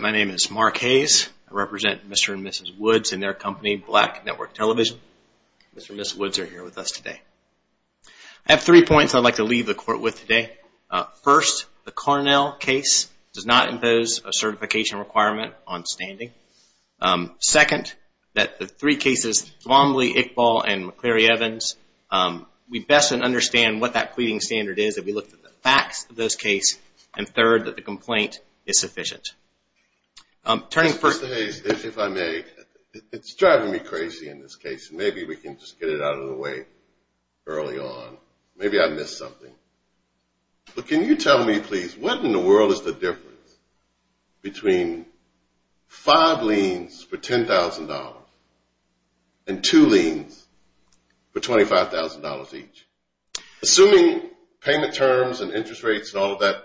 My name is Mark Hayes. I represent Mr. and Mrs. Woods and their company, Black Network Television. Mr. and Mrs. Woods are here with us today. I have three points I'd like to leave the court with today. First, the Cornell case does not impose a certification requirement on standing. Second, that the three cases, Thrombley, Iqbal, and McCleary-Evans, we best understand what that pleading standard is if we look at the facts of those cases. And third, that the complaint is sufficient. Mr. Hayes, if I may, it's driving me crazy in this case. Maybe we can just get it out of the way early on. Maybe I missed something. But can you tell me, please, what in the world is the difference between five liens for $10,000 and two liens for $25,000 each? Assuming payment terms and interest rates and all of that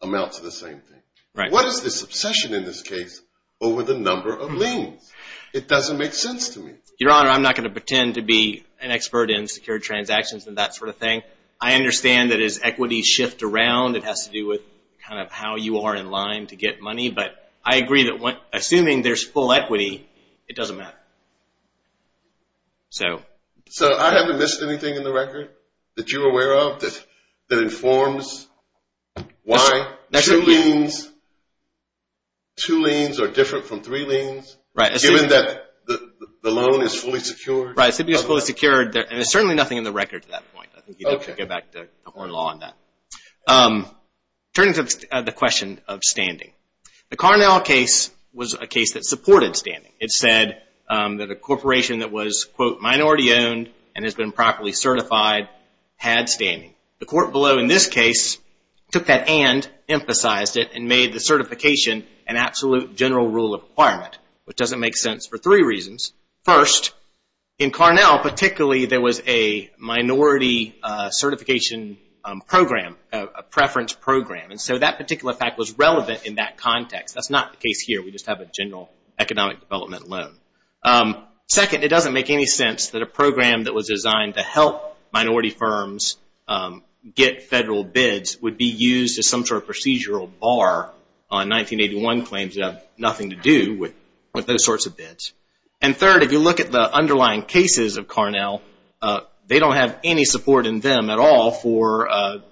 amounts to the same thing. What is this obsession in this case over the number of liens? It doesn't make sense to me. Your Honor, I'm not going to pretend to be an expert in secure transactions and that sort of thing. I understand that as equities shift around, it has to do with kind of how you are in line to get money. But I agree that assuming there's full equity, it doesn't matter. So I haven't missed anything in the record that you're aware of that informs why two liens are different from three liens, given that the loan is fully secured? Right, it's fully secured and there's certainly nothing in the record to that point. I think you'd have to go back to Horn Law on that. Turning to the question of standing. The Carnell case was a case that supported standing. It said that a corporation that was, quote, minority owned and has been properly certified had standing. The court below in this case took that and emphasized it and made the certification an absolute general rule of requirement, which doesn't make sense for three reasons. First, in Carnell, particularly, there was a minority certification program, a preference program, and so that particular fact was relevant in that context. That's not the case here. We just have a general economic development loan. Second, it doesn't make any sense that a program that was designed to help minority firms get federal bids would be used as some sort of procedural bar on 1981 claims that have nothing to do with those sorts of bids. And third, if you look at the underlying cases of Carnell, they don't have any support in them at all for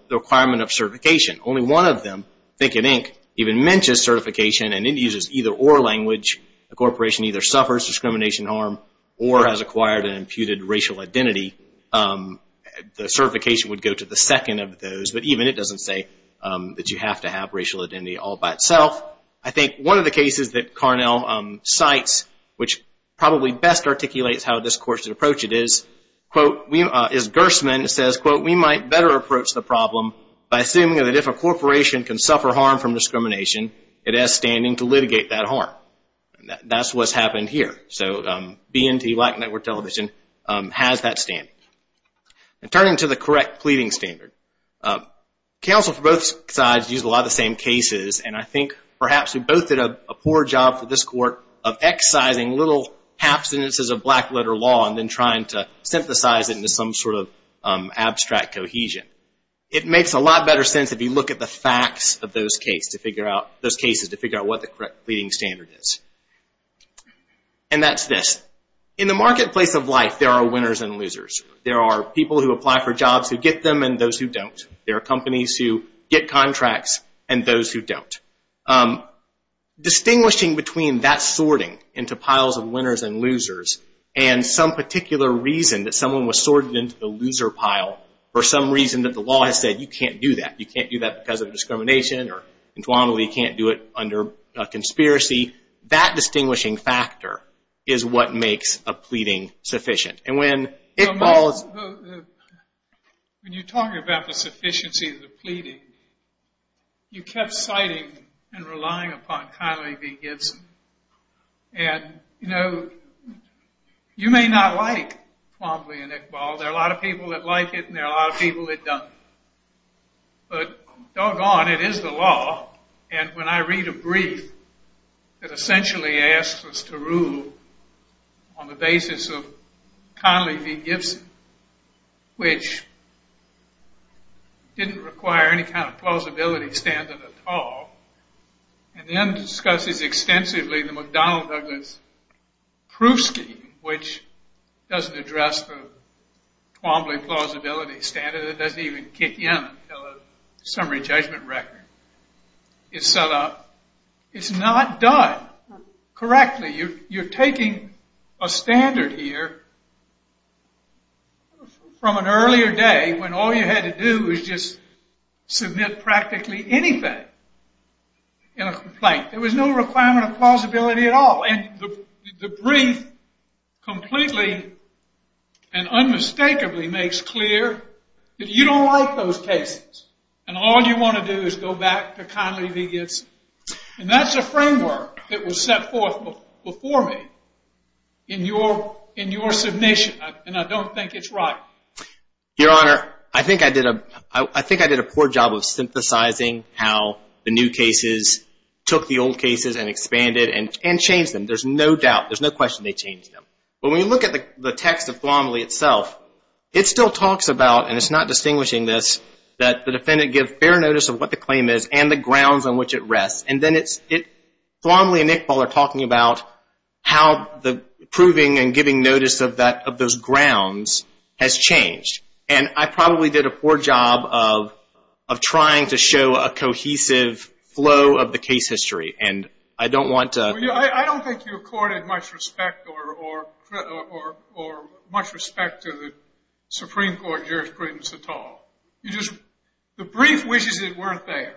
the requirement of certification. Only one of them, Think and Inc., even mentions certification and it uses either or language. A corporation either suffers discrimination harm or has acquired an imputed racial identity. The certification would go to the second of those, but even it doesn't say that you have to have racial identity all by itself. I think one of the cases that Carnell cites, which probably best articulates how this court should approach it is, is Gerstmann says, quote, we might better approach the problem by assuming that if a corporation can suffer harm from discrimination, it has standing to litigate that harm. That's what's happened here. So BNT, Black Network Television, has that standing. Turning to the correct pleading standard, counsel for both sides used a lot of the same cases and I think perhaps we both did a poor job for this court of excising little half sentences of black letter law and then trying to synthesize it into some sort of abstract cohesion. It makes a lot better sense if you look at the facts of those cases to figure out what the correct pleading standard is. And that's this. In the marketplace of life, there are winners and losers. There are people who apply for jobs who get them and those who don't. There are companies who get contracts and those who don't. Distinguishing between that sorting into piles of winners and losers and some particular reason that someone was sorted into the loser pile or some reason that the law has said you can't do that. You can't do that because of discrimination or entwinedly you can't do it under a conspiracy. That distinguishing factor is what makes a pleading sufficient. When you're talking about the sufficiency of the pleading, you kept citing and relying upon Connolly v. Gibson. And you may not like Connolly and Iqbal. There are a lot of people that like it and there are a lot of people that don't. But doggone, it is the law. And when I read a brief that essentially asks us to rule on the basis of Connolly v. Gibson, which didn't require any kind of plausibility standard at all, and then discusses extensively the McDonnell-Douglas proof scheme, which doesn't address the Twombly plausibility standard. It doesn't even kick in until a summary judgment record is set up. It's not done correctly. You're taking a standard here from an earlier day when all you had to do was just submit practically anything in a complaint. There was no requirement of plausibility at all. The brief completely and unmistakably makes clear that you don't like those cases. And all you want to do is go back to Connolly v. Gibson. And that's a framework that was set forth before me in your submission, and I don't think it's right. Your Honor, I think I did a poor job of synthesizing how the new cases took the old cases and expanded and changed them. There's no doubt. There's no question they changed them. But when you look at the text of Twombly itself, it still talks about, and it's not distinguishing this, that the defendant give fair notice of what the claim is and the grounds on which it rests. And then Twombly and Iqbal are talking about how the proving and giving notice of those grounds has changed. And I probably did a poor job of trying to show a cohesive flow of the case history and I don't want to. I don't think you accorded much respect or much respect to the Supreme Court jurisprudence at all. The brief wishes weren't there.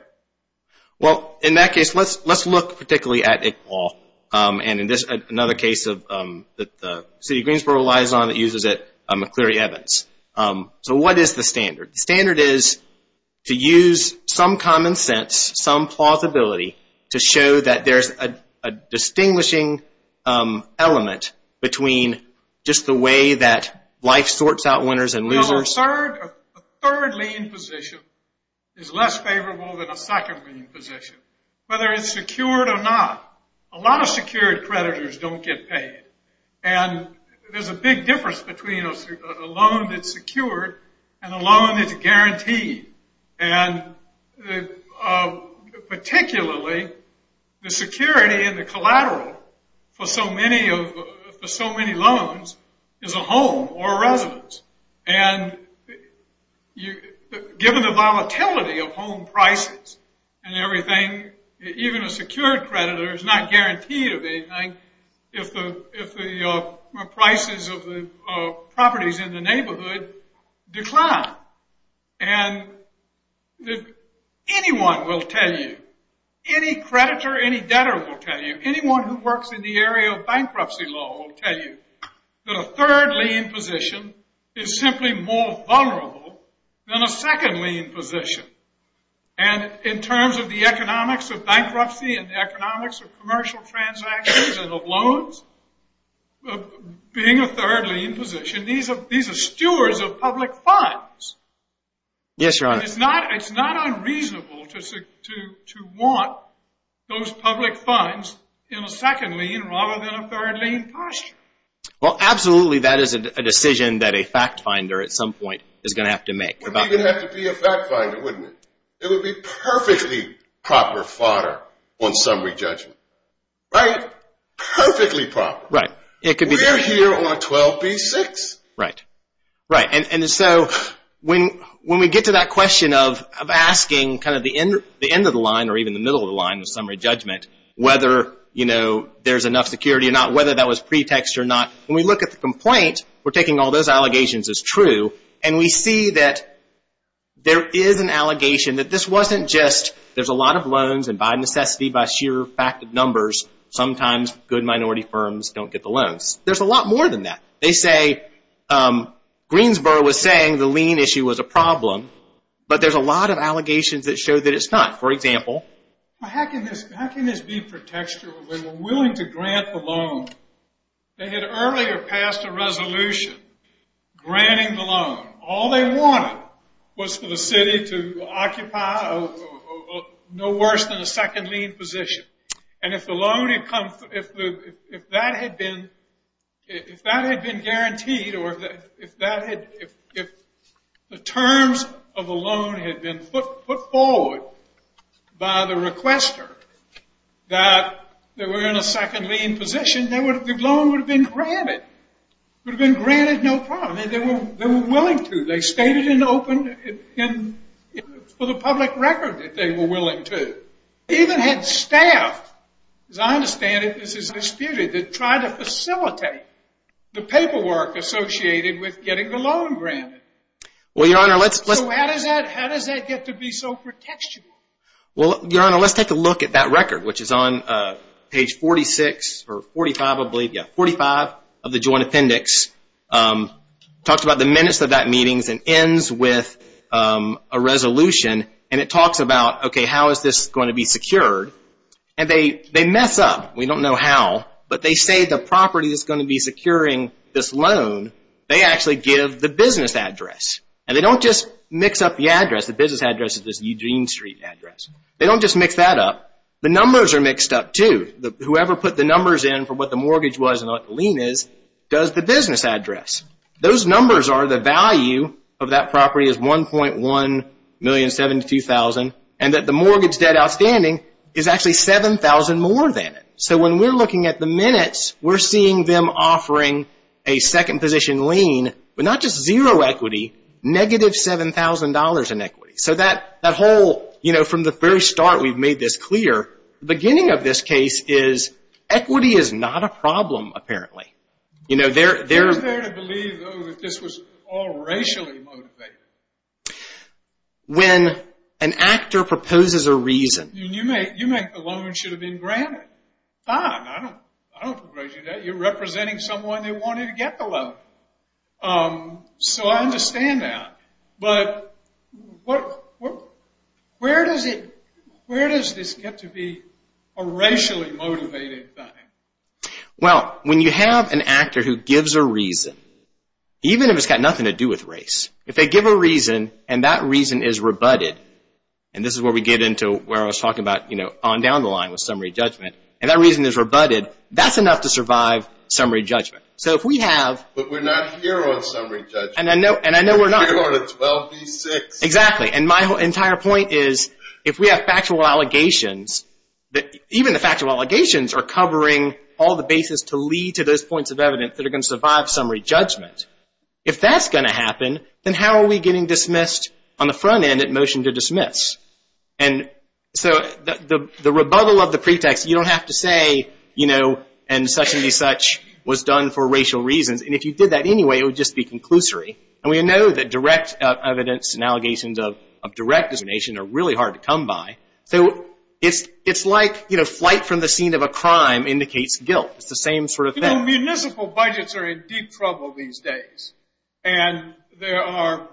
Well, in that case, let's look particularly at Iqbal and another case that the city of Greensboro relies on that uses it, McCleary-Evans. So what is the standard? The standard is to use some common sense, some plausibility, to show that there's a distinguishing element between just the way that life sorts out winners and losers. A third lien position is less favorable than a second lien position, whether it's secured or not. A lot of secured creditors don't get paid. And there's a big difference between a loan that's secured and a loan that's guaranteed. And particularly, the security and the collateral for so many loans is a home or a residence. And given the volatility of home prices and everything, even a secured creditor is not guaranteed of anything if the prices of the properties in the neighborhood decline. And anyone will tell you, any creditor, any debtor will tell you, anyone who works in the area of bankruptcy law will tell you that a third lien position is simply more vulnerable than a second lien position. And in terms of the economics of bankruptcy and economics of commercial transactions and of loans, being a third lien position, these are stewards of public funds. Yes, Your Honor. It's not unreasonable to want those public funds in a second lien rather than a third lien posture. Well, absolutely, that is a decision that a fact finder at some point is going to have to make. It wouldn't even have to be a fact finder, wouldn't it? It would be perfectly proper fodder on summary judgment. Right? Perfectly proper. Right. We're here on 12b-6. Right. Right. And so when we get to that question of asking kind of the end of the line or even the middle of the line of summary judgment, whether there's enough security or not, whether that was pretext or not, when we look at the complaint, we're taking all those allegations as true, and we see that there is an allegation that this wasn't just there's a lot of loans and by necessity, by sheer fact of numbers, sometimes good minority firms don't get the loans. There's a lot more than that. They say Greensboro was saying the lien issue was a problem, but there's a lot of allegations that show that it's not. For example? How can this be pretextual? They were willing to grant the loan. They had earlier passed a resolution granting the loan. All they wanted was for the city to occupy no worse than a second lien position, and if that had been guaranteed or if the terms of the loan had been put forward by the requester that they were in a second lien position, the loan would have been granted. It would have been granted no problem. They were willing to. They stated it open for the public record that they were willing to. They even had staff, as I understand it, this is disputed, that tried to facilitate the paperwork associated with getting the loan granted. Well, Your Honor, let's So how does that get to be so pretextual? Well, Your Honor, let's take a look at that record, which is on page 45 of the joint appendix. It talks about the minutes of that meeting and ends with a resolution. It talks about how this is going to be secured. They mess up. We don't know how, but they say the property is going to be securing this loan. They actually give the business address. They don't just mix up the address. The business address is this Eugene Street address. They don't just mix that up. The numbers are mixed up too. Whoever put the numbers in for what the mortgage was and what the lien is does the business address. Those numbers are the value of that property is $1.1 million, $72,000, and that the mortgage debt outstanding is actually $7,000 more than it. So when we're looking at the minutes, we're seeing them offering a second position lien, but not just zero equity, negative $7,000 in equity. So that whole, you know, from the very start we've made this clear. The beginning of this case is equity is not a problem, apparently. You know, they're – Who's there to believe, though, that this was all racially motivated? When an actor proposes a reason – You make the loan should have been granted. Fine. I don't begrudge you that. You're representing someone that wanted to get the loan. So I understand that. But where does this get to be a racially motivated thing? Well, when you have an actor who gives a reason, even if it's got nothing to do with race, if they give a reason and that reason is rebutted, and this is where we get into where I was talking about, you know, on down the line with summary judgment, and that reason is rebutted, that's enough to survive summary judgment. So if we have – But we're not here on summary judgment. And I know we're not. We're on a 12B6. Exactly. And my entire point is if we have factual allegations, even the factual allegations are covering all the bases to lead to those points of evidence that are going to survive summary judgment. If that's going to happen, then how are we getting dismissed on the front end at motion to dismiss? And so the rebuttal of the pretext, you don't have to say, you know, and such and be such was done for racial reasons. And if you did that anyway, it would just be conclusory. And we know that direct evidence and allegations of direct discrimination are really hard to come by. So it's like, you know, flight from the scene of a crime indicates guilt. It's the same sort of thing. You know, municipal budgets are in deep trouble these days. And they are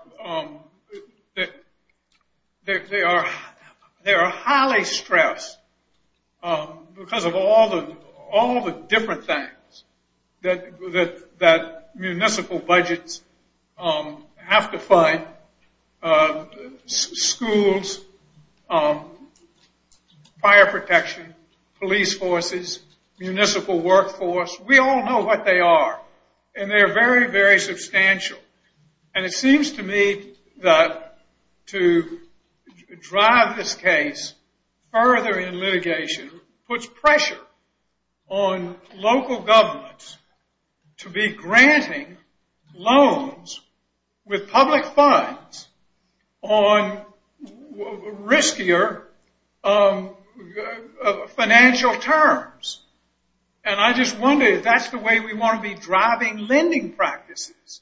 highly stressed because of all the different things that municipal budgets have to fight, schools, fire protection, police forces, municipal workforce. We all know what they are. And they are very, very substantial. And it seems to me that to drive this case further in litigation puts pressure on local governments to be granting loans with public funds on riskier financial terms. And I just wonder if that's the way we want to be driving lending practices.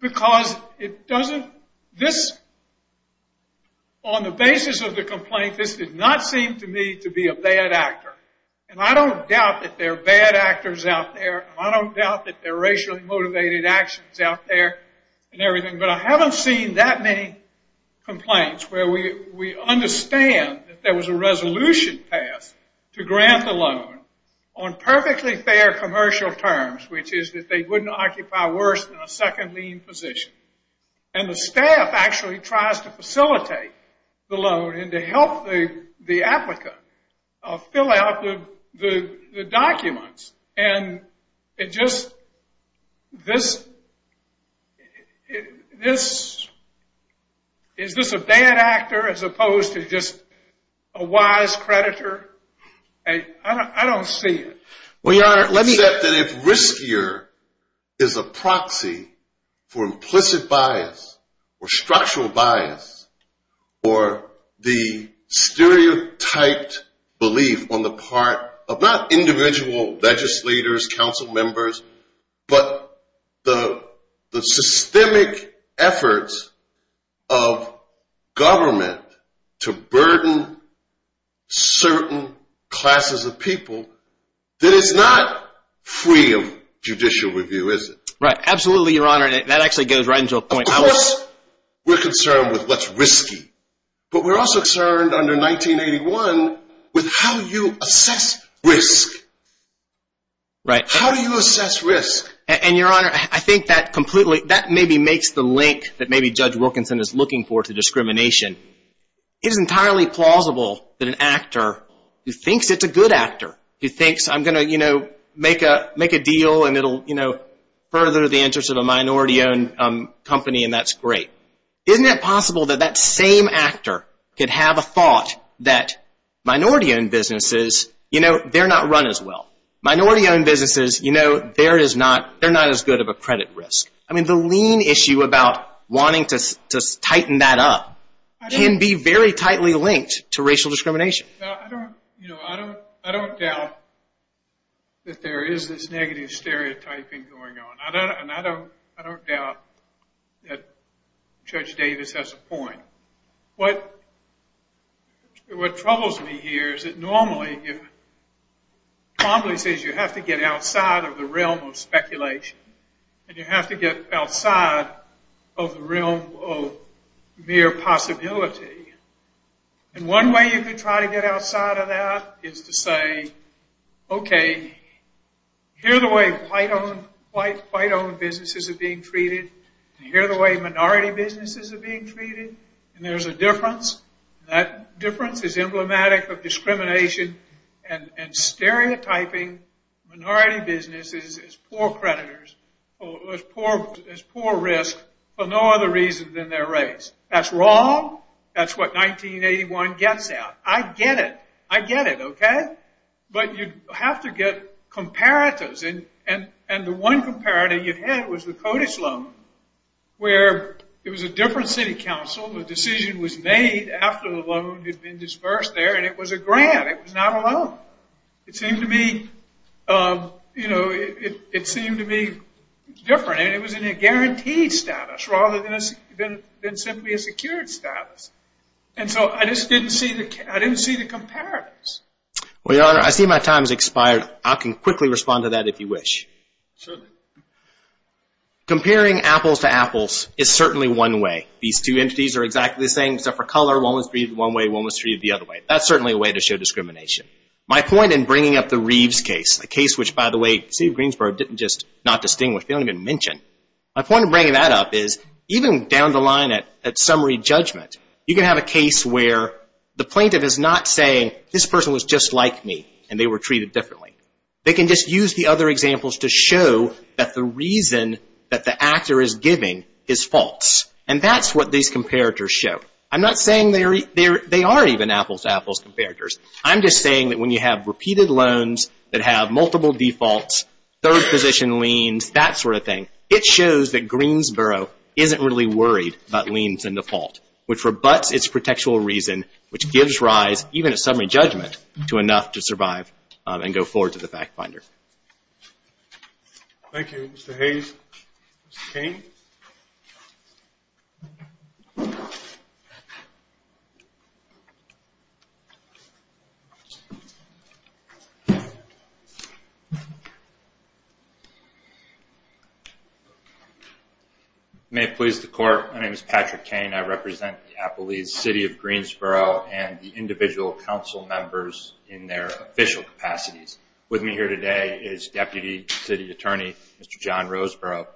Because it doesn't, this, on the basis of the complaint, this did not seem to me to be a bad actor. And I don't doubt that there are bad actors out there. I don't doubt that there are racially motivated actions out there and everything. But I haven't seen that many complaints where we understand that there was a resolution passed to grant the loan on perfectly fair commercial terms, which is that they wouldn't occupy worse than a second lien position. And the staff actually tries to facilitate the loan and to help the applicant fill out the documents. And it just, this, is this a bad actor as opposed to just a wise creditor? I don't see it. Well, Your Honor, let me. You said that if riskier is a proxy for implicit bias or structural bias or the stereotyped belief on the part of not individual legislators, council members, but the systemic efforts of government to burden certain classes of people, that it's not free of judicial review, is it? Right. Absolutely, Your Honor. And that actually goes right into a point. Of course, we're concerned with what's risky. But we're also concerned under 1981 with how you assess risk. Right. How do you assess risk? And, Your Honor, I think that completely, that maybe makes the link that maybe Judge Wilkinson is looking for to discrimination. It is entirely plausible that an actor who thinks it's a good actor, who thinks I'm going to, you know, make a deal and it'll, you know, further the interests of a minority-owned company and that's great. Isn't it possible that that same actor could have a thought that minority-owned businesses, you know, they're not run as well. Minority-owned businesses, you know, they're not as good of a credit risk. I mean, the lien issue about wanting to tighten that up can be very tightly linked to racial discrimination. I don't doubt that there is this negative stereotyping going on. And I don't doubt that Judge Davis has a point. What troubles me here is that normally, Trombley says you have to get outside of the realm of speculation. And you have to get outside of the realm of mere possibility. And one way you can try to get outside of that is to say, okay, here are the way white-owned businesses are being treated. And here are the way minority businesses are being treated. And there's a difference. That difference is emblematic of discrimination and stereotyping minority businesses as poor creditors, as poor risk for no other reason than their race. That's wrong. That's what 1981 gets at. I get it. I get it, okay? But you have to get comparators. And the one comparator you had was the Kodish loan, where it was a different city council. The decision was made after the loan had been disbursed there. And it was a grant. It was not a loan. It seemed to be, you know, it seemed to be different. I mean, it was in a guaranteed status rather than simply a secured status. And so I just didn't see the comparators. Well, Your Honor, I see my time has expired. I can quickly respond to that if you wish. Certainly. Comparing apples to apples is certainly one way. These two entities are exactly the same except for color. One was treated one way. One was treated the other way. That's certainly a way to show discrimination. My point in bringing up the Reeves case, a case which, by the way, the city of Greensboro didn't just not distinguish. They don't even mention. My point in bringing that up is even down the line at summary judgment, you can have a case where the plaintiff is not saying, this person was just like me and they were treated differently. They can just use the other examples to show that the reason that the actor is giving is false. And that's what these comparators show. I'm not saying they are even apples to apples comparators. I'm just saying that when you have repeated loans that have multiple defaults, third position liens, that sort of thing, it shows that Greensboro isn't really worried about liens and default, which rebutts its protectual reason, which gives rise, even at summary judgment, to enough to survive and go forward to the fact finder. Thank you. Mr. Hayes. Mr. Cain. May it please the court, my name is Patrick Cain. I represent the Appalachian City of Greensboro and the individual council members in their official capacities. With me here today is Deputy City Attorney, Mr. John Roseborough.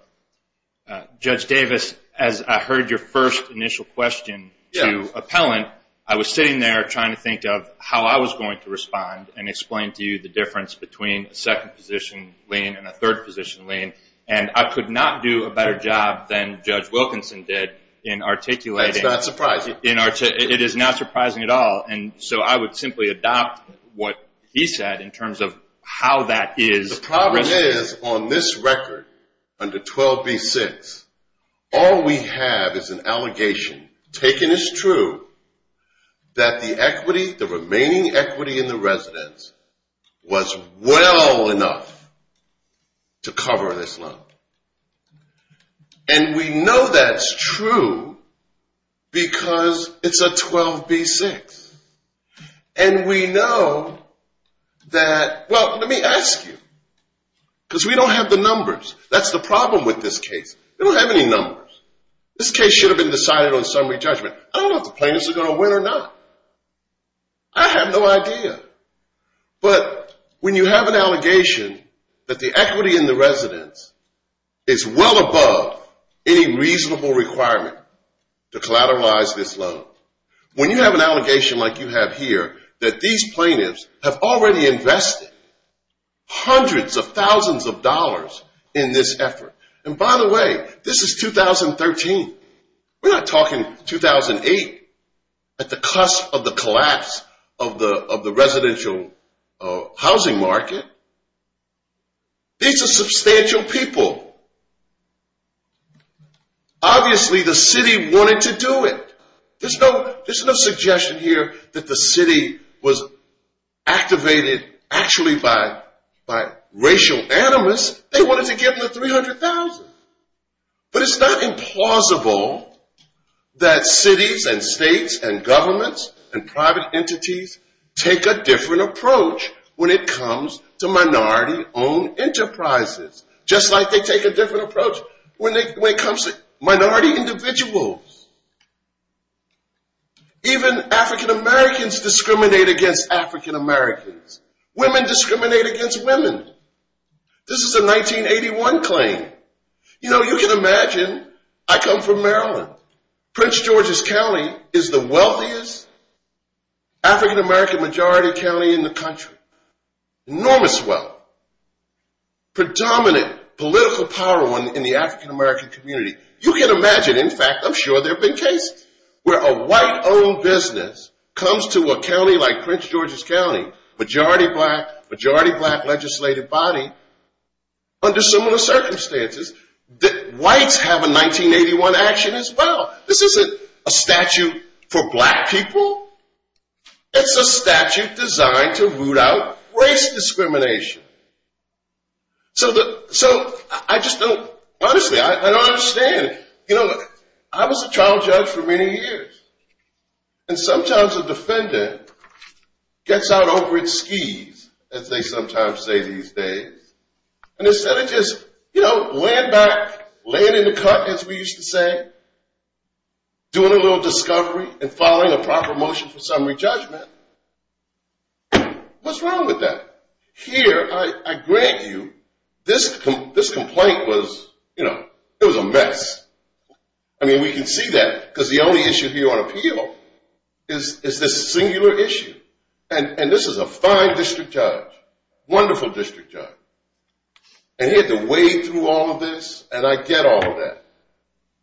Judge Davis, as I heard your first initial question to appellant, I was sitting there trying to think of how I was going to respond and explain to you the difference between a second position lien and a third position lien. And I could not do a better job than Judge Wilkinson did in articulating. That's not surprising. It is not surprising at all. And so I would simply adopt what he said in terms of how that is. The problem is on this record under 12B-6, all we have is an allegation, taken as true, that the equity, the remaining equity in the residence was well enough to cover this loan. And we know that's true because it's a 12B-6. And we know that, well, let me ask you, because we don't have the numbers. That's the problem with this case. We don't have any numbers. This case should have been decided on summary judgment. I don't know if the plaintiffs are going to win or not. I have no idea. But when you have an allegation that the equity in the residence is well above any reasonable requirement to collateralize this loan, when you have an allegation like you have here, that these plaintiffs have already invested hundreds of thousands of dollars in this effort. And by the way, this is 2013. We're not talking 2008 at the cusp of the collapse of the residential housing market. These are substantial people. Obviously the city wanted to do it. There's no suggestion here that the city was activated actually by racial animus. They wanted to give them the $300,000. But it's not implausible that cities and states and governments and private entities take a different approach when it comes to minority-owned enterprises, just like they take a different approach when it comes to minority individuals. Even African-Americans discriminate against African-Americans. Women discriminate against women. This is a 1981 claim. You know, you can imagine. I come from Maryland. Prince George's County is the wealthiest African-American majority county in the country. Enormous wealth. Predominant political power in the African-American community. You can imagine. In fact, I'm sure there have been cases where a white-owned business comes to a county like Prince George's County, majority black legislative body, under similar circumstances, whites have a 1981 action as well. This isn't a statute for black people. It's a statute designed to root out race discrimination. So I just don't, honestly, I don't understand. You know, I was a trial judge for many years. And sometimes a defendant gets out over his skis, as they sometimes say these days, and instead of just, you know, laying back, laying in the cut, as we used to say, doing a little discovery and following a proper motion for summary judgment, what's wrong with that? Here, I grant you, this complaint was, you know, it was a mess. I mean, we can see that because the only issue here on appeal is this singular issue. And this is a fine district judge, wonderful district judge. And he had to wade through all of this, and I get all of that.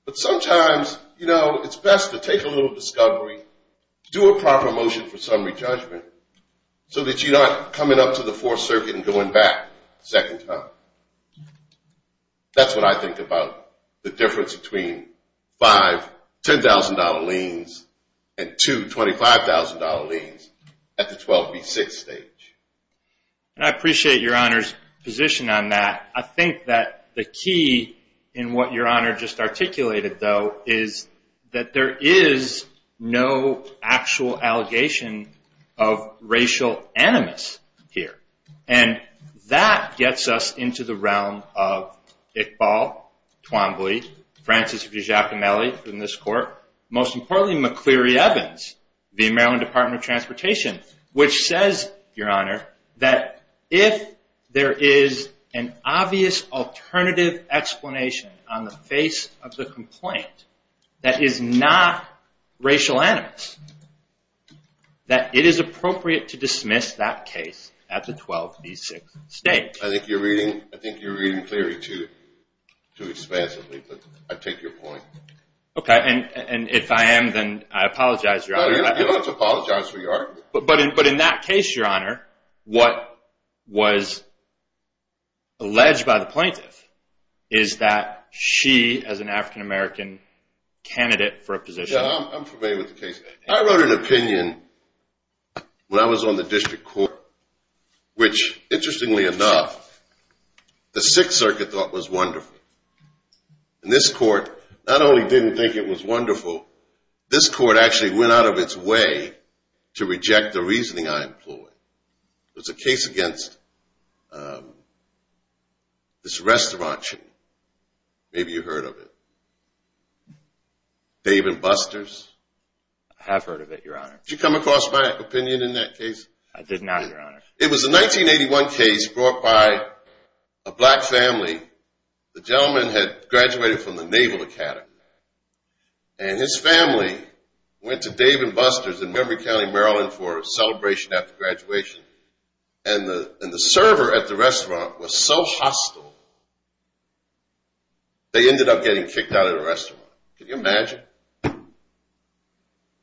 But sometimes, you know, it's best to take a little discovery, do a proper motion for summary judgment, so that you're not coming up to the Fourth Circuit and going back a second time. That's what I think about the difference between five $10,000 liens and two $25,000 liens at the 12B6 stage. And I appreciate Your Honor's position on that. I think that the key in what Your Honor just articulated, though, is that there is no actual allegation of racial animus here. And that gets us into the realm of Iqbal Twombly, Francis Giacomelli in this court, most importantly McCleary Evans, the Maryland Department of Transportation, which says, Your Honor, that if there is an obvious alternative explanation on the face of the complaint that is not racial animus, that it is appropriate to dismiss that case at the 12B6 stage. I think you're reading Cleary too expansively, but I take your point. Okay, and if I am, then I apologize, Your Honor. You don't have to apologize for your argument. But in that case, Your Honor, what was alleged by the plaintiff is that she, as an African-American candidate for a position. I'm familiar with the case. I wrote an opinion when I was on the district court, which, interestingly enough, the Sixth Circuit thought was wonderful. And this court not only didn't think it was wonderful, this court actually went out of its way to reject the reasoning I employed. There's a case against this restaurant chain. Maybe you've heard of it. Dave and Buster's. I have heard of it, Your Honor. Did you come across my opinion in that case? I did not, Your Honor. It was a 1981 case brought by a black family. The gentleman had graduated from the Naval Academy, and his family went to Dave and Buster's in Montgomery County, Maryland, for a celebration after graduation. And the server at the restaurant was so hostile, they ended up getting kicked out of the restaurant. Can you imagine?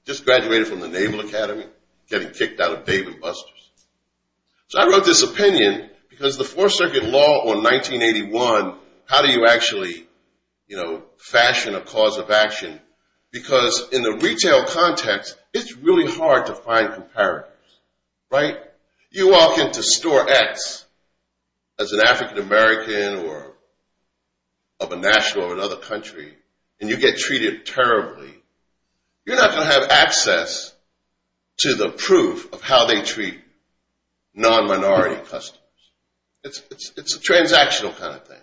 Just graduated from the Naval Academy, getting kicked out of Dave and Buster's. So I wrote this opinion because the Fourth Circuit law on 1981, how do you actually fashion a cause of action? Because in the retail context, it's really hard to find comparators, right? You walk into Store X as an African-American or of a national or another country, and you get treated terribly, you're not going to have access to the proof of how they treat non-minority customers. It's a transactional kind of thing.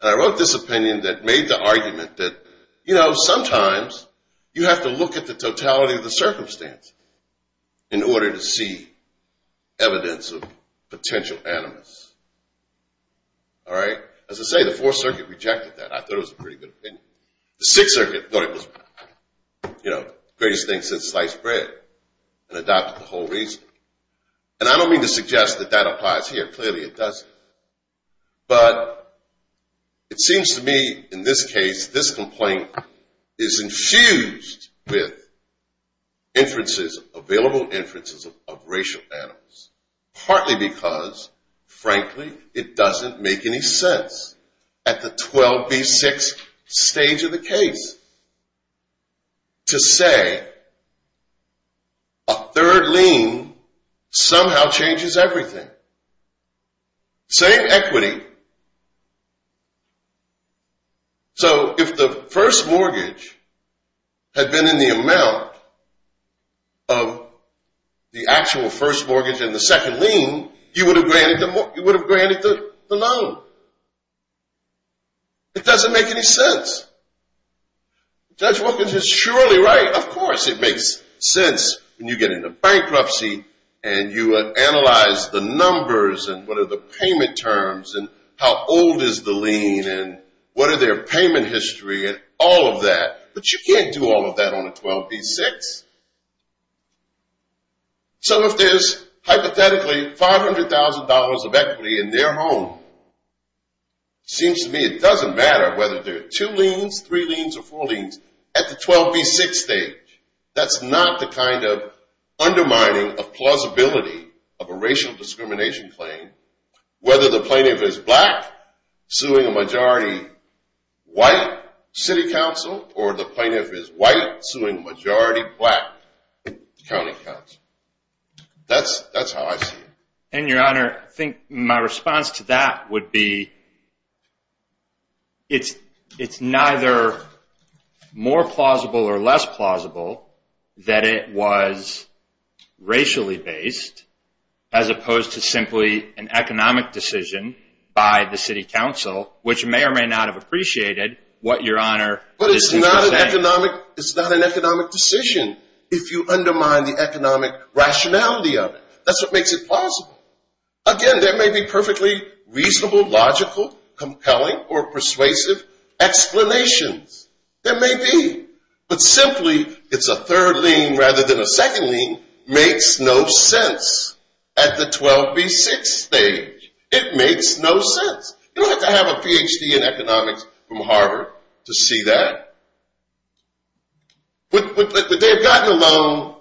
And I wrote this opinion that made the argument that, you know, sometimes you have to look at the totality of the circumstance in order to see evidence of potential animus. All right? As I say, the Fourth Circuit rejected that. I thought it was a pretty good opinion. The Sixth Circuit thought it was the greatest thing since sliced bread and adopted the whole reason. And I don't mean to suggest that that applies here. Clearly it doesn't. But it seems to me in this case, this complaint is infused with inferences, available inferences of racial animus, partly because, frankly, it doesn't make any sense at the 12B6 stage of the case to say a third lien somehow changes everything. Same equity. So if the first mortgage had been in the amount of the actual first mortgage and the second lien, you would have granted the loan. It doesn't make any sense. Judge Wilkins is surely right. Of course it makes sense when you get into bankruptcy and you analyze the numbers and what are the payment terms and how old is the lien and what are their payment history and all of that. But you can't do all of that on a 12B6. So if there's hypothetically $500,000 of equity in their home, it seems to me it doesn't matter whether there are two liens, three liens, or four liens at the 12B6 stage. That's not the kind of undermining of plausibility of a racial discrimination claim whether the plaintiff is black suing a majority white city council or the plaintiff is white suing a majority black county council. That's how I see it. And, Your Honor, I think my response to that would be it's neither more plausible or less plausible that it was racially based as opposed to simply an economic decision by the city council, which may or may not have appreciated what Your Honor is saying. But it's not an economic decision if you undermine the economic rationality of it. That's what makes it plausible. Again, there may be perfectly reasonable, logical, compelling, or persuasive explanations. There may be. But simply it's a third lien rather than a second lien makes no sense at the 12B6 stage. It makes no sense. You don't have to have a Ph.D. in economics from Harvard to see that. Would they have gotten a loan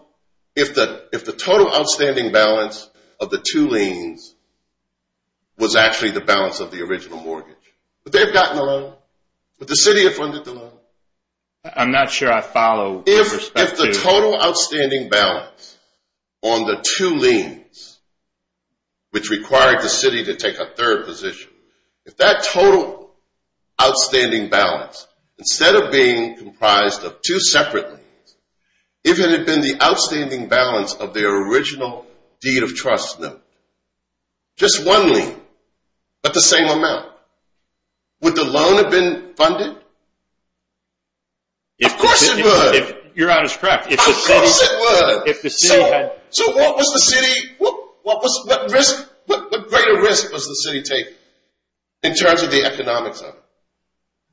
if the total outstanding balance of the two liens was actually the balance of the original mortgage? Would they have gotten a loan? Would the city have funded the loan? I'm not sure I follow the perspective. If the total outstanding balance on the two liens, which required the city to take a third position, if that total outstanding balance, instead of being comprised of two separate liens, if it had been the outstanding balance of their original deed of trust note, just one lien but the same amount, would the loan have been funded? Of course it would. Your Honor is correct. Of course it would. So what greater risk was the city taking in terms of the economics of it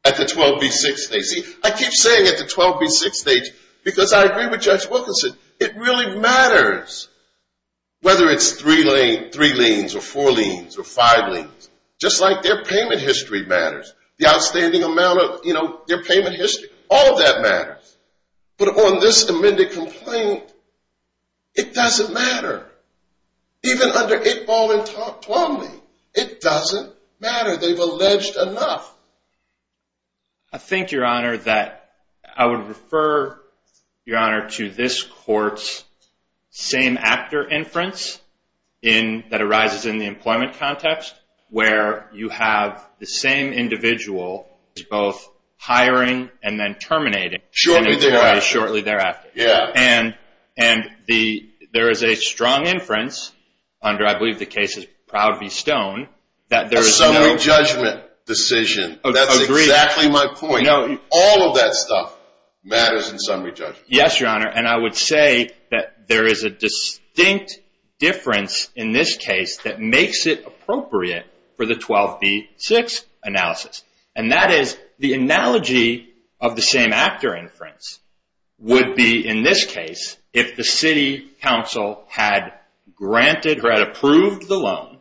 at the 12B6 stage? I keep saying at the 12B6 stage because I agree with Judge Wilkinson. It really matters whether it's three liens or four liens or five liens, just like their payment history matters, the outstanding amount of their payment history. All of that matters. But on this amended complaint, it doesn't matter. Even under it all in 12B, it doesn't matter. They've alleged enough. I think, Your Honor, that I would refer, Your Honor, to this court's same actor inference that arises in the employment context where you have the same individual both hiring and then terminating. Shortly thereafter. Shortly thereafter. Yeah. And there is a strong inference under, I believe the case is Proud v. Stone, that there is no— A summary judgment decision. Agreed. That's exactly my point. All of that stuff matters in summary judgment. Yes, Your Honor. And I would say that there is a distinct difference in this case that makes it appropriate for the 12B6 analysis. And that is the analogy of the same actor inference would be in this case if the city council had granted or had approved the loan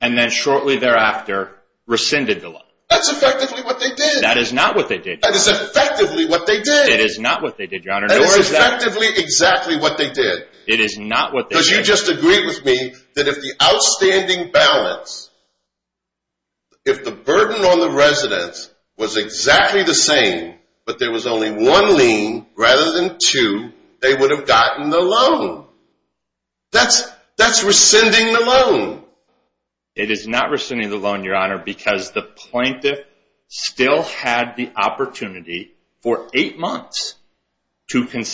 and then shortly thereafter rescinded the loan. That's effectively what they did. That is not what they did. That is effectively what they did. It is not what they did, Your Honor. That is effectively exactly what they did. It is not what they did. Because you just agreed with me that if the outstanding balance, if the burden on the residents was exactly the same, but there was only one lien rather than two, they would have gotten the loan. That's rescinding the loan. It is not rescinding the loan, Your Honor, because the plaintiff still had the opportunity for eight months And I think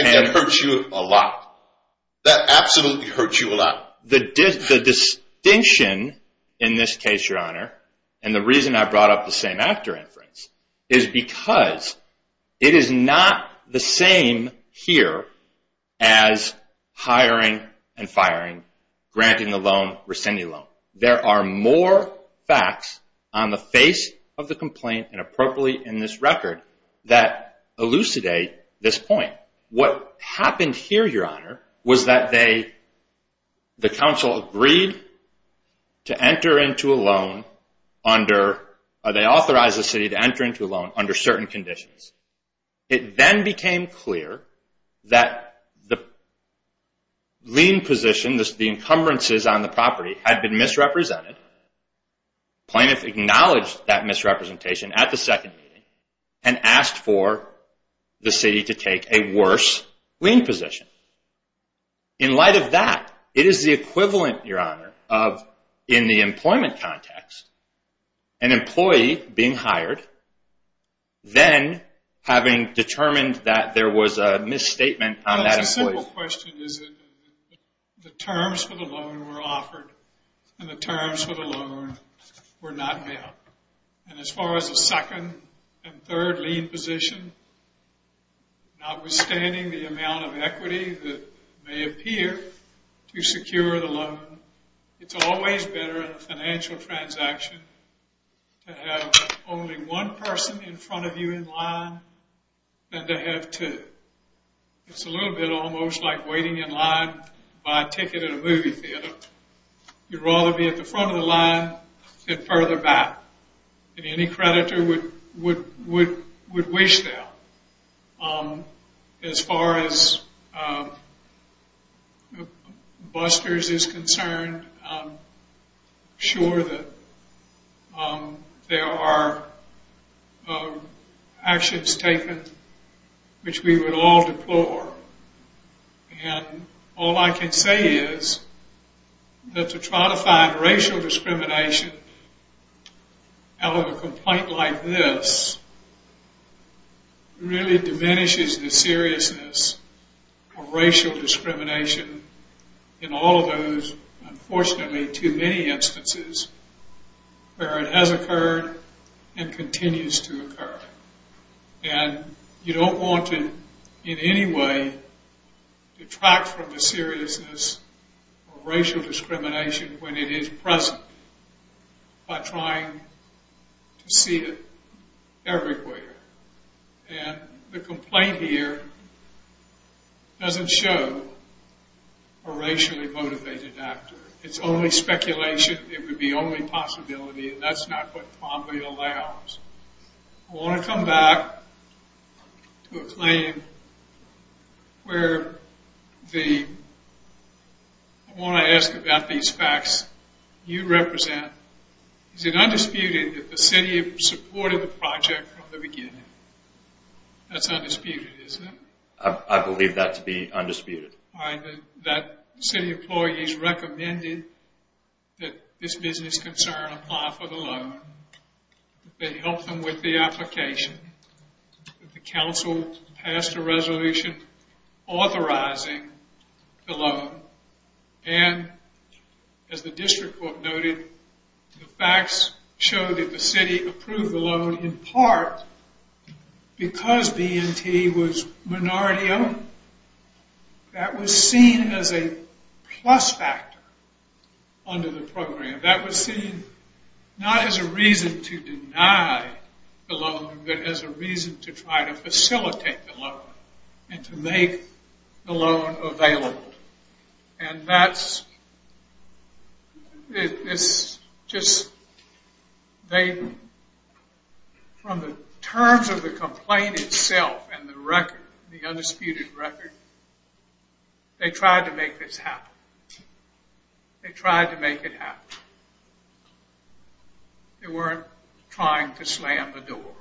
that hurts you a lot. That absolutely hurts you a lot. The distinction in this case, Your Honor, and the reason I brought up the same actor inference, is because it is not the same here as hiring and firing, granting the loan, rescinding the loan. There are more facts on the face of the complaint and appropriately in this record that elucidate this point. What happened here, Your Honor, was that the council agreed to enter into a loan under, or they authorized the city to enter into a loan under certain conditions. It then became clear that the lien position, the encumbrances on the property, had been misrepresented. Plaintiff acknowledged that misrepresentation at the second meeting and asked for the city to take a worse lien position. In light of that, it is the equivalent, Your Honor, of in the employment context, an employee being hired, then having determined that there was a misstatement on that employee. The simple question is that the terms for the loan were offered and the terms for the loan were not met. As far as the second and third lien position, notwithstanding the amount of equity that may appear to secure the loan, it's always better in a financial transaction to have only one person in front of you in line than to have two. It's a little bit almost like waiting in line to buy a ticket at a movie theater. You'd rather be at the front of the line than further back, and any creditor would wish that. As far as Buster's is concerned, I'm sure that there are actions taken which we would all deplore, and all I can say is that to try to find racial discrimination out of a complaint like this really diminishes the seriousness of racial discrimination in all of those, unfortunately, too many instances where it has occurred and continues to occur. And you don't want to, in any way, detract from the seriousness of racial discrimination when it is present by trying to see it everywhere. And the complaint here doesn't show a racially motivated actor. It's only speculation. It would be only possibility, and that's not what probably allows. I want to come back to a claim where the... I want to ask about these facts you represent. Is it undisputed that the city supported the project from the beginning? That's undisputed, isn't it? I believe that to be undisputed. That city employees recommended that this business concern apply for the loan, that they help them with the application. The council passed a resolution authorizing the loan, and as the district court noted, the facts show that the city approved the loan in part because B&T was minority-owned. That was seen as a plus factor under the program. That was seen not as a reason to deny the loan, but as a reason to try to facilitate the loan and to make the loan available. And that's just... From the terms of the complaint itself and the record, the undisputed record, they tried to make this happen. They tried to make it happen. They weren't trying to slam the door.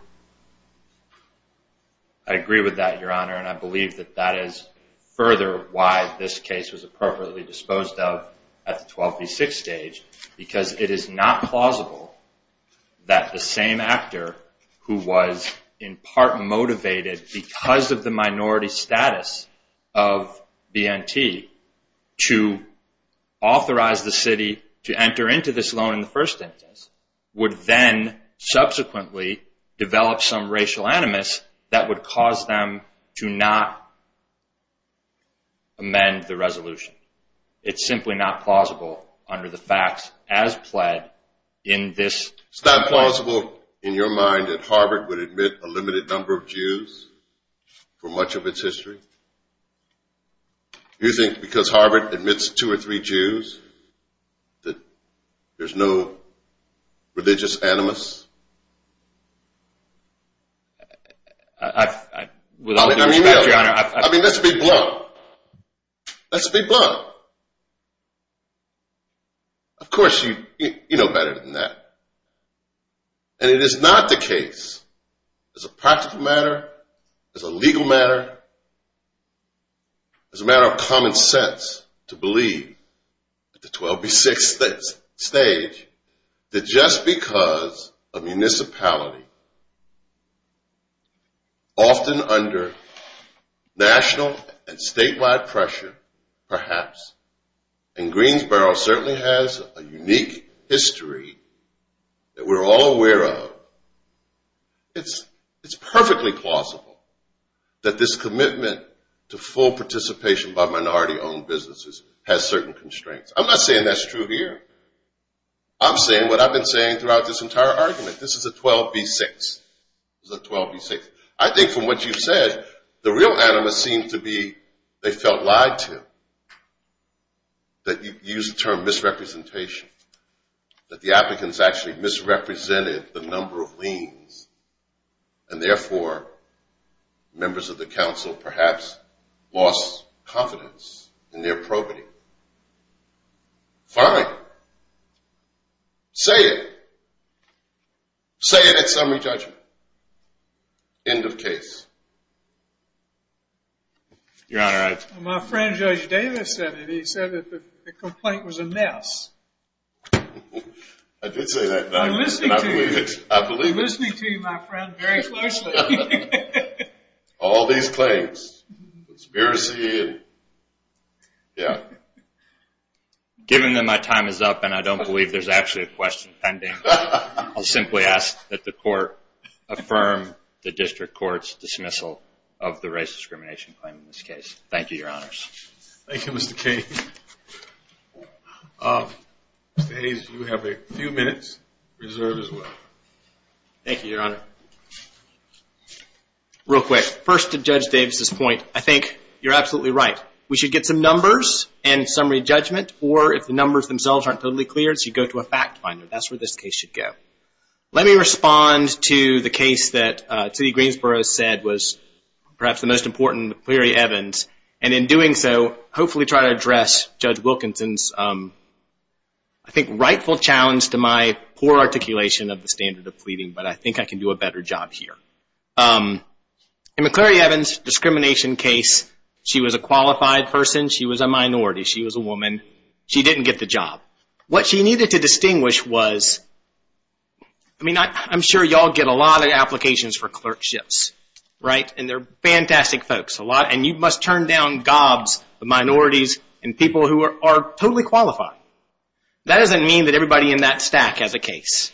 I agree with that, Your Honor, and I believe that that is further why this case was appropriately disposed of at the 12v6 stage, because it is not plausible that the same actor who was in part motivated because of the minority status of B&T to authorize the city to enter into this loan in the first instance would then subsequently develop some racial animus that would cause them to not amend the resolution. It's simply not plausible under the facts as pled in this case. It's not plausible in your mind that Harvard would admit a limited number of Jews for much of its history? You think because Harvard admits two or three Jews that there's no religious animus? I mean, let's be blunt. Let's be blunt. Of course, you know better than that. And it is not the case, as a practical matter, as a legal matter, as a matter of common sense to believe at the 12v6 stage, that just because a municipality, often under national and statewide pressure, perhaps, in Greensboro certainly has a unique history that we're all aware of, it's perfectly plausible that this commitment to full participation by minority-owned businesses has certain constraints. I'm not saying that's true here. I'm saying what I've been saying throughout this entire argument. This is a 12v6. I think from what you said, the real animus seems to be they felt lied to, that you used the term misrepresentation, that the applicants actually misrepresented the number of liens, and therefore members of the council perhaps lost confidence in their probity. Fine. Say it. Say it at summary judgment. End of case. Your Honor, I... I did say that. I'm listening to you. I believe it. I'm listening to you, my friend, very closely. All these claims. Conspiracy. Yeah. Given that my time is up and I don't believe there's actually a question pending, I'll simply ask that the court affirm the district court's dismissal of the race discrimination claim in this case. Thank you, Your Honors. Thank you, Mr. King. Mr. Hayes, you have a few minutes reserved as well. Thank you, Your Honor. Real quick. First, to Judge Davis's point, I think you're absolutely right. We should get some numbers and summary judgment, or if the numbers themselves aren't totally clear, you should go to a fact finder. That's where this case should go. Let me respond to the case that T.E. Greensboro said was perhaps the most important in McCleary-Evans, and in doing so, hopefully try to address Judge Wilkinson's, I think, rightful challenge to my poor articulation of the standard of pleading, but I think I can do a better job here. In McCleary-Evans' discrimination case, she was a qualified person. She was a minority. She was a woman. She didn't get the job. What she needed to distinguish was, I mean, I'm sure you all get a lot of applications for clerkships, right? They're fantastic folks, and you must turn down gobs of minorities and people who are totally qualified. That doesn't mean that everybody in that stack has a case.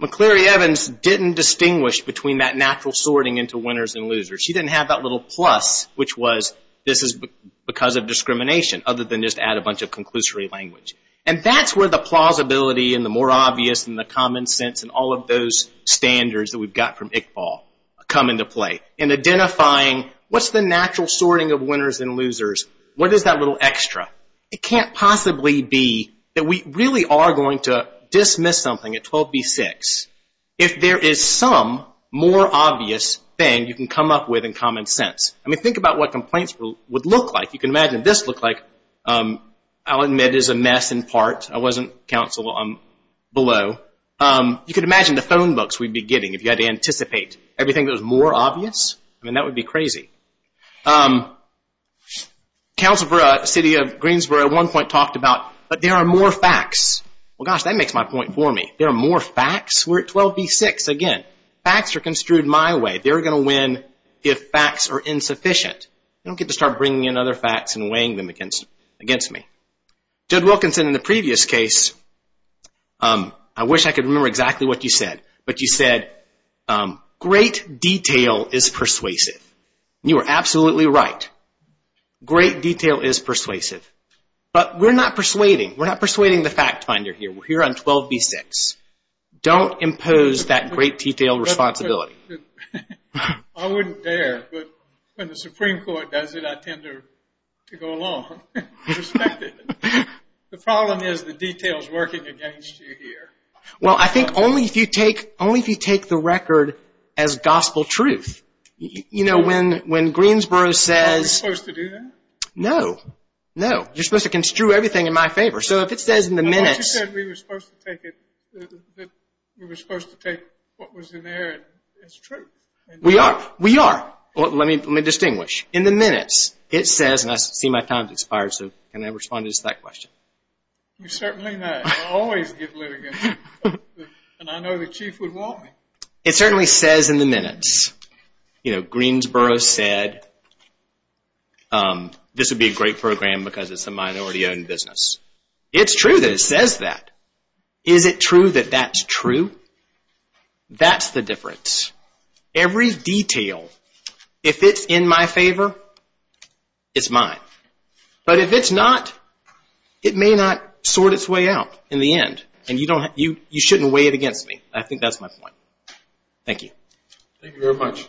McCleary-Evans didn't distinguish between that natural sorting into winners and losers. She didn't have that little plus, which was this is because of discrimination, other than just add a bunch of conclusory language. That's where the plausibility and the more obvious and the common sense and all of those standards that we've got from Iqbal come into play. In identifying what's the natural sorting of winners and losers, what is that little extra? It can't possibly be that we really are going to dismiss something at 12B6 if there is some more obvious thing you can come up with in common sense. I mean, think about what complaints would look like. You can imagine this looked like, I'll admit, is a mess in part. I wasn't counsel below. Everything that was more obvious? I mean, that would be crazy. Council for the City of Greensboro at one point talked about, but there are more facts. Well, gosh, that makes my point for me. There are more facts? We're at 12B6 again. Facts are construed my way. They're going to win if facts are insufficient. I don't get to start bringing in other facts and weighing them against me. Judd Wilkinson in the previous case, I wish I could remember exactly what you said, but you said great detail is persuasive. You are absolutely right. Great detail is persuasive. But we're not persuading. We're not persuading the fact finder here. We're here on 12B6. Don't impose that great detail responsibility. I wouldn't dare, but when the Supreme Court does it, I tend to go along. Respect it. The problem is the detail is working against you here. Well, I think only if you take the record as gospel truth. You know, when Greensboro says... Aren't we supposed to do that? No. No. You're supposed to construe everything in my favor. So if it says in the minutes... But what you said, we were supposed to take what was in there as truth. We are. We are. Let me distinguish. In the minutes, it says, and I see my time has expired, so can I respond to just that question? You certainly may. I always get litigated. And I know the chief would want me. It certainly says in the minutes. You know, Greensboro said this would be a great program because it's a minority-owned business. It's true that it says that. Is it true that that's true? That's the difference. Every detail, if it's in my favor, it's mine. But if it's not, it may not sort its way out in the end. And you shouldn't weigh it against me. I think that's my point. Thank you. Thank you very much.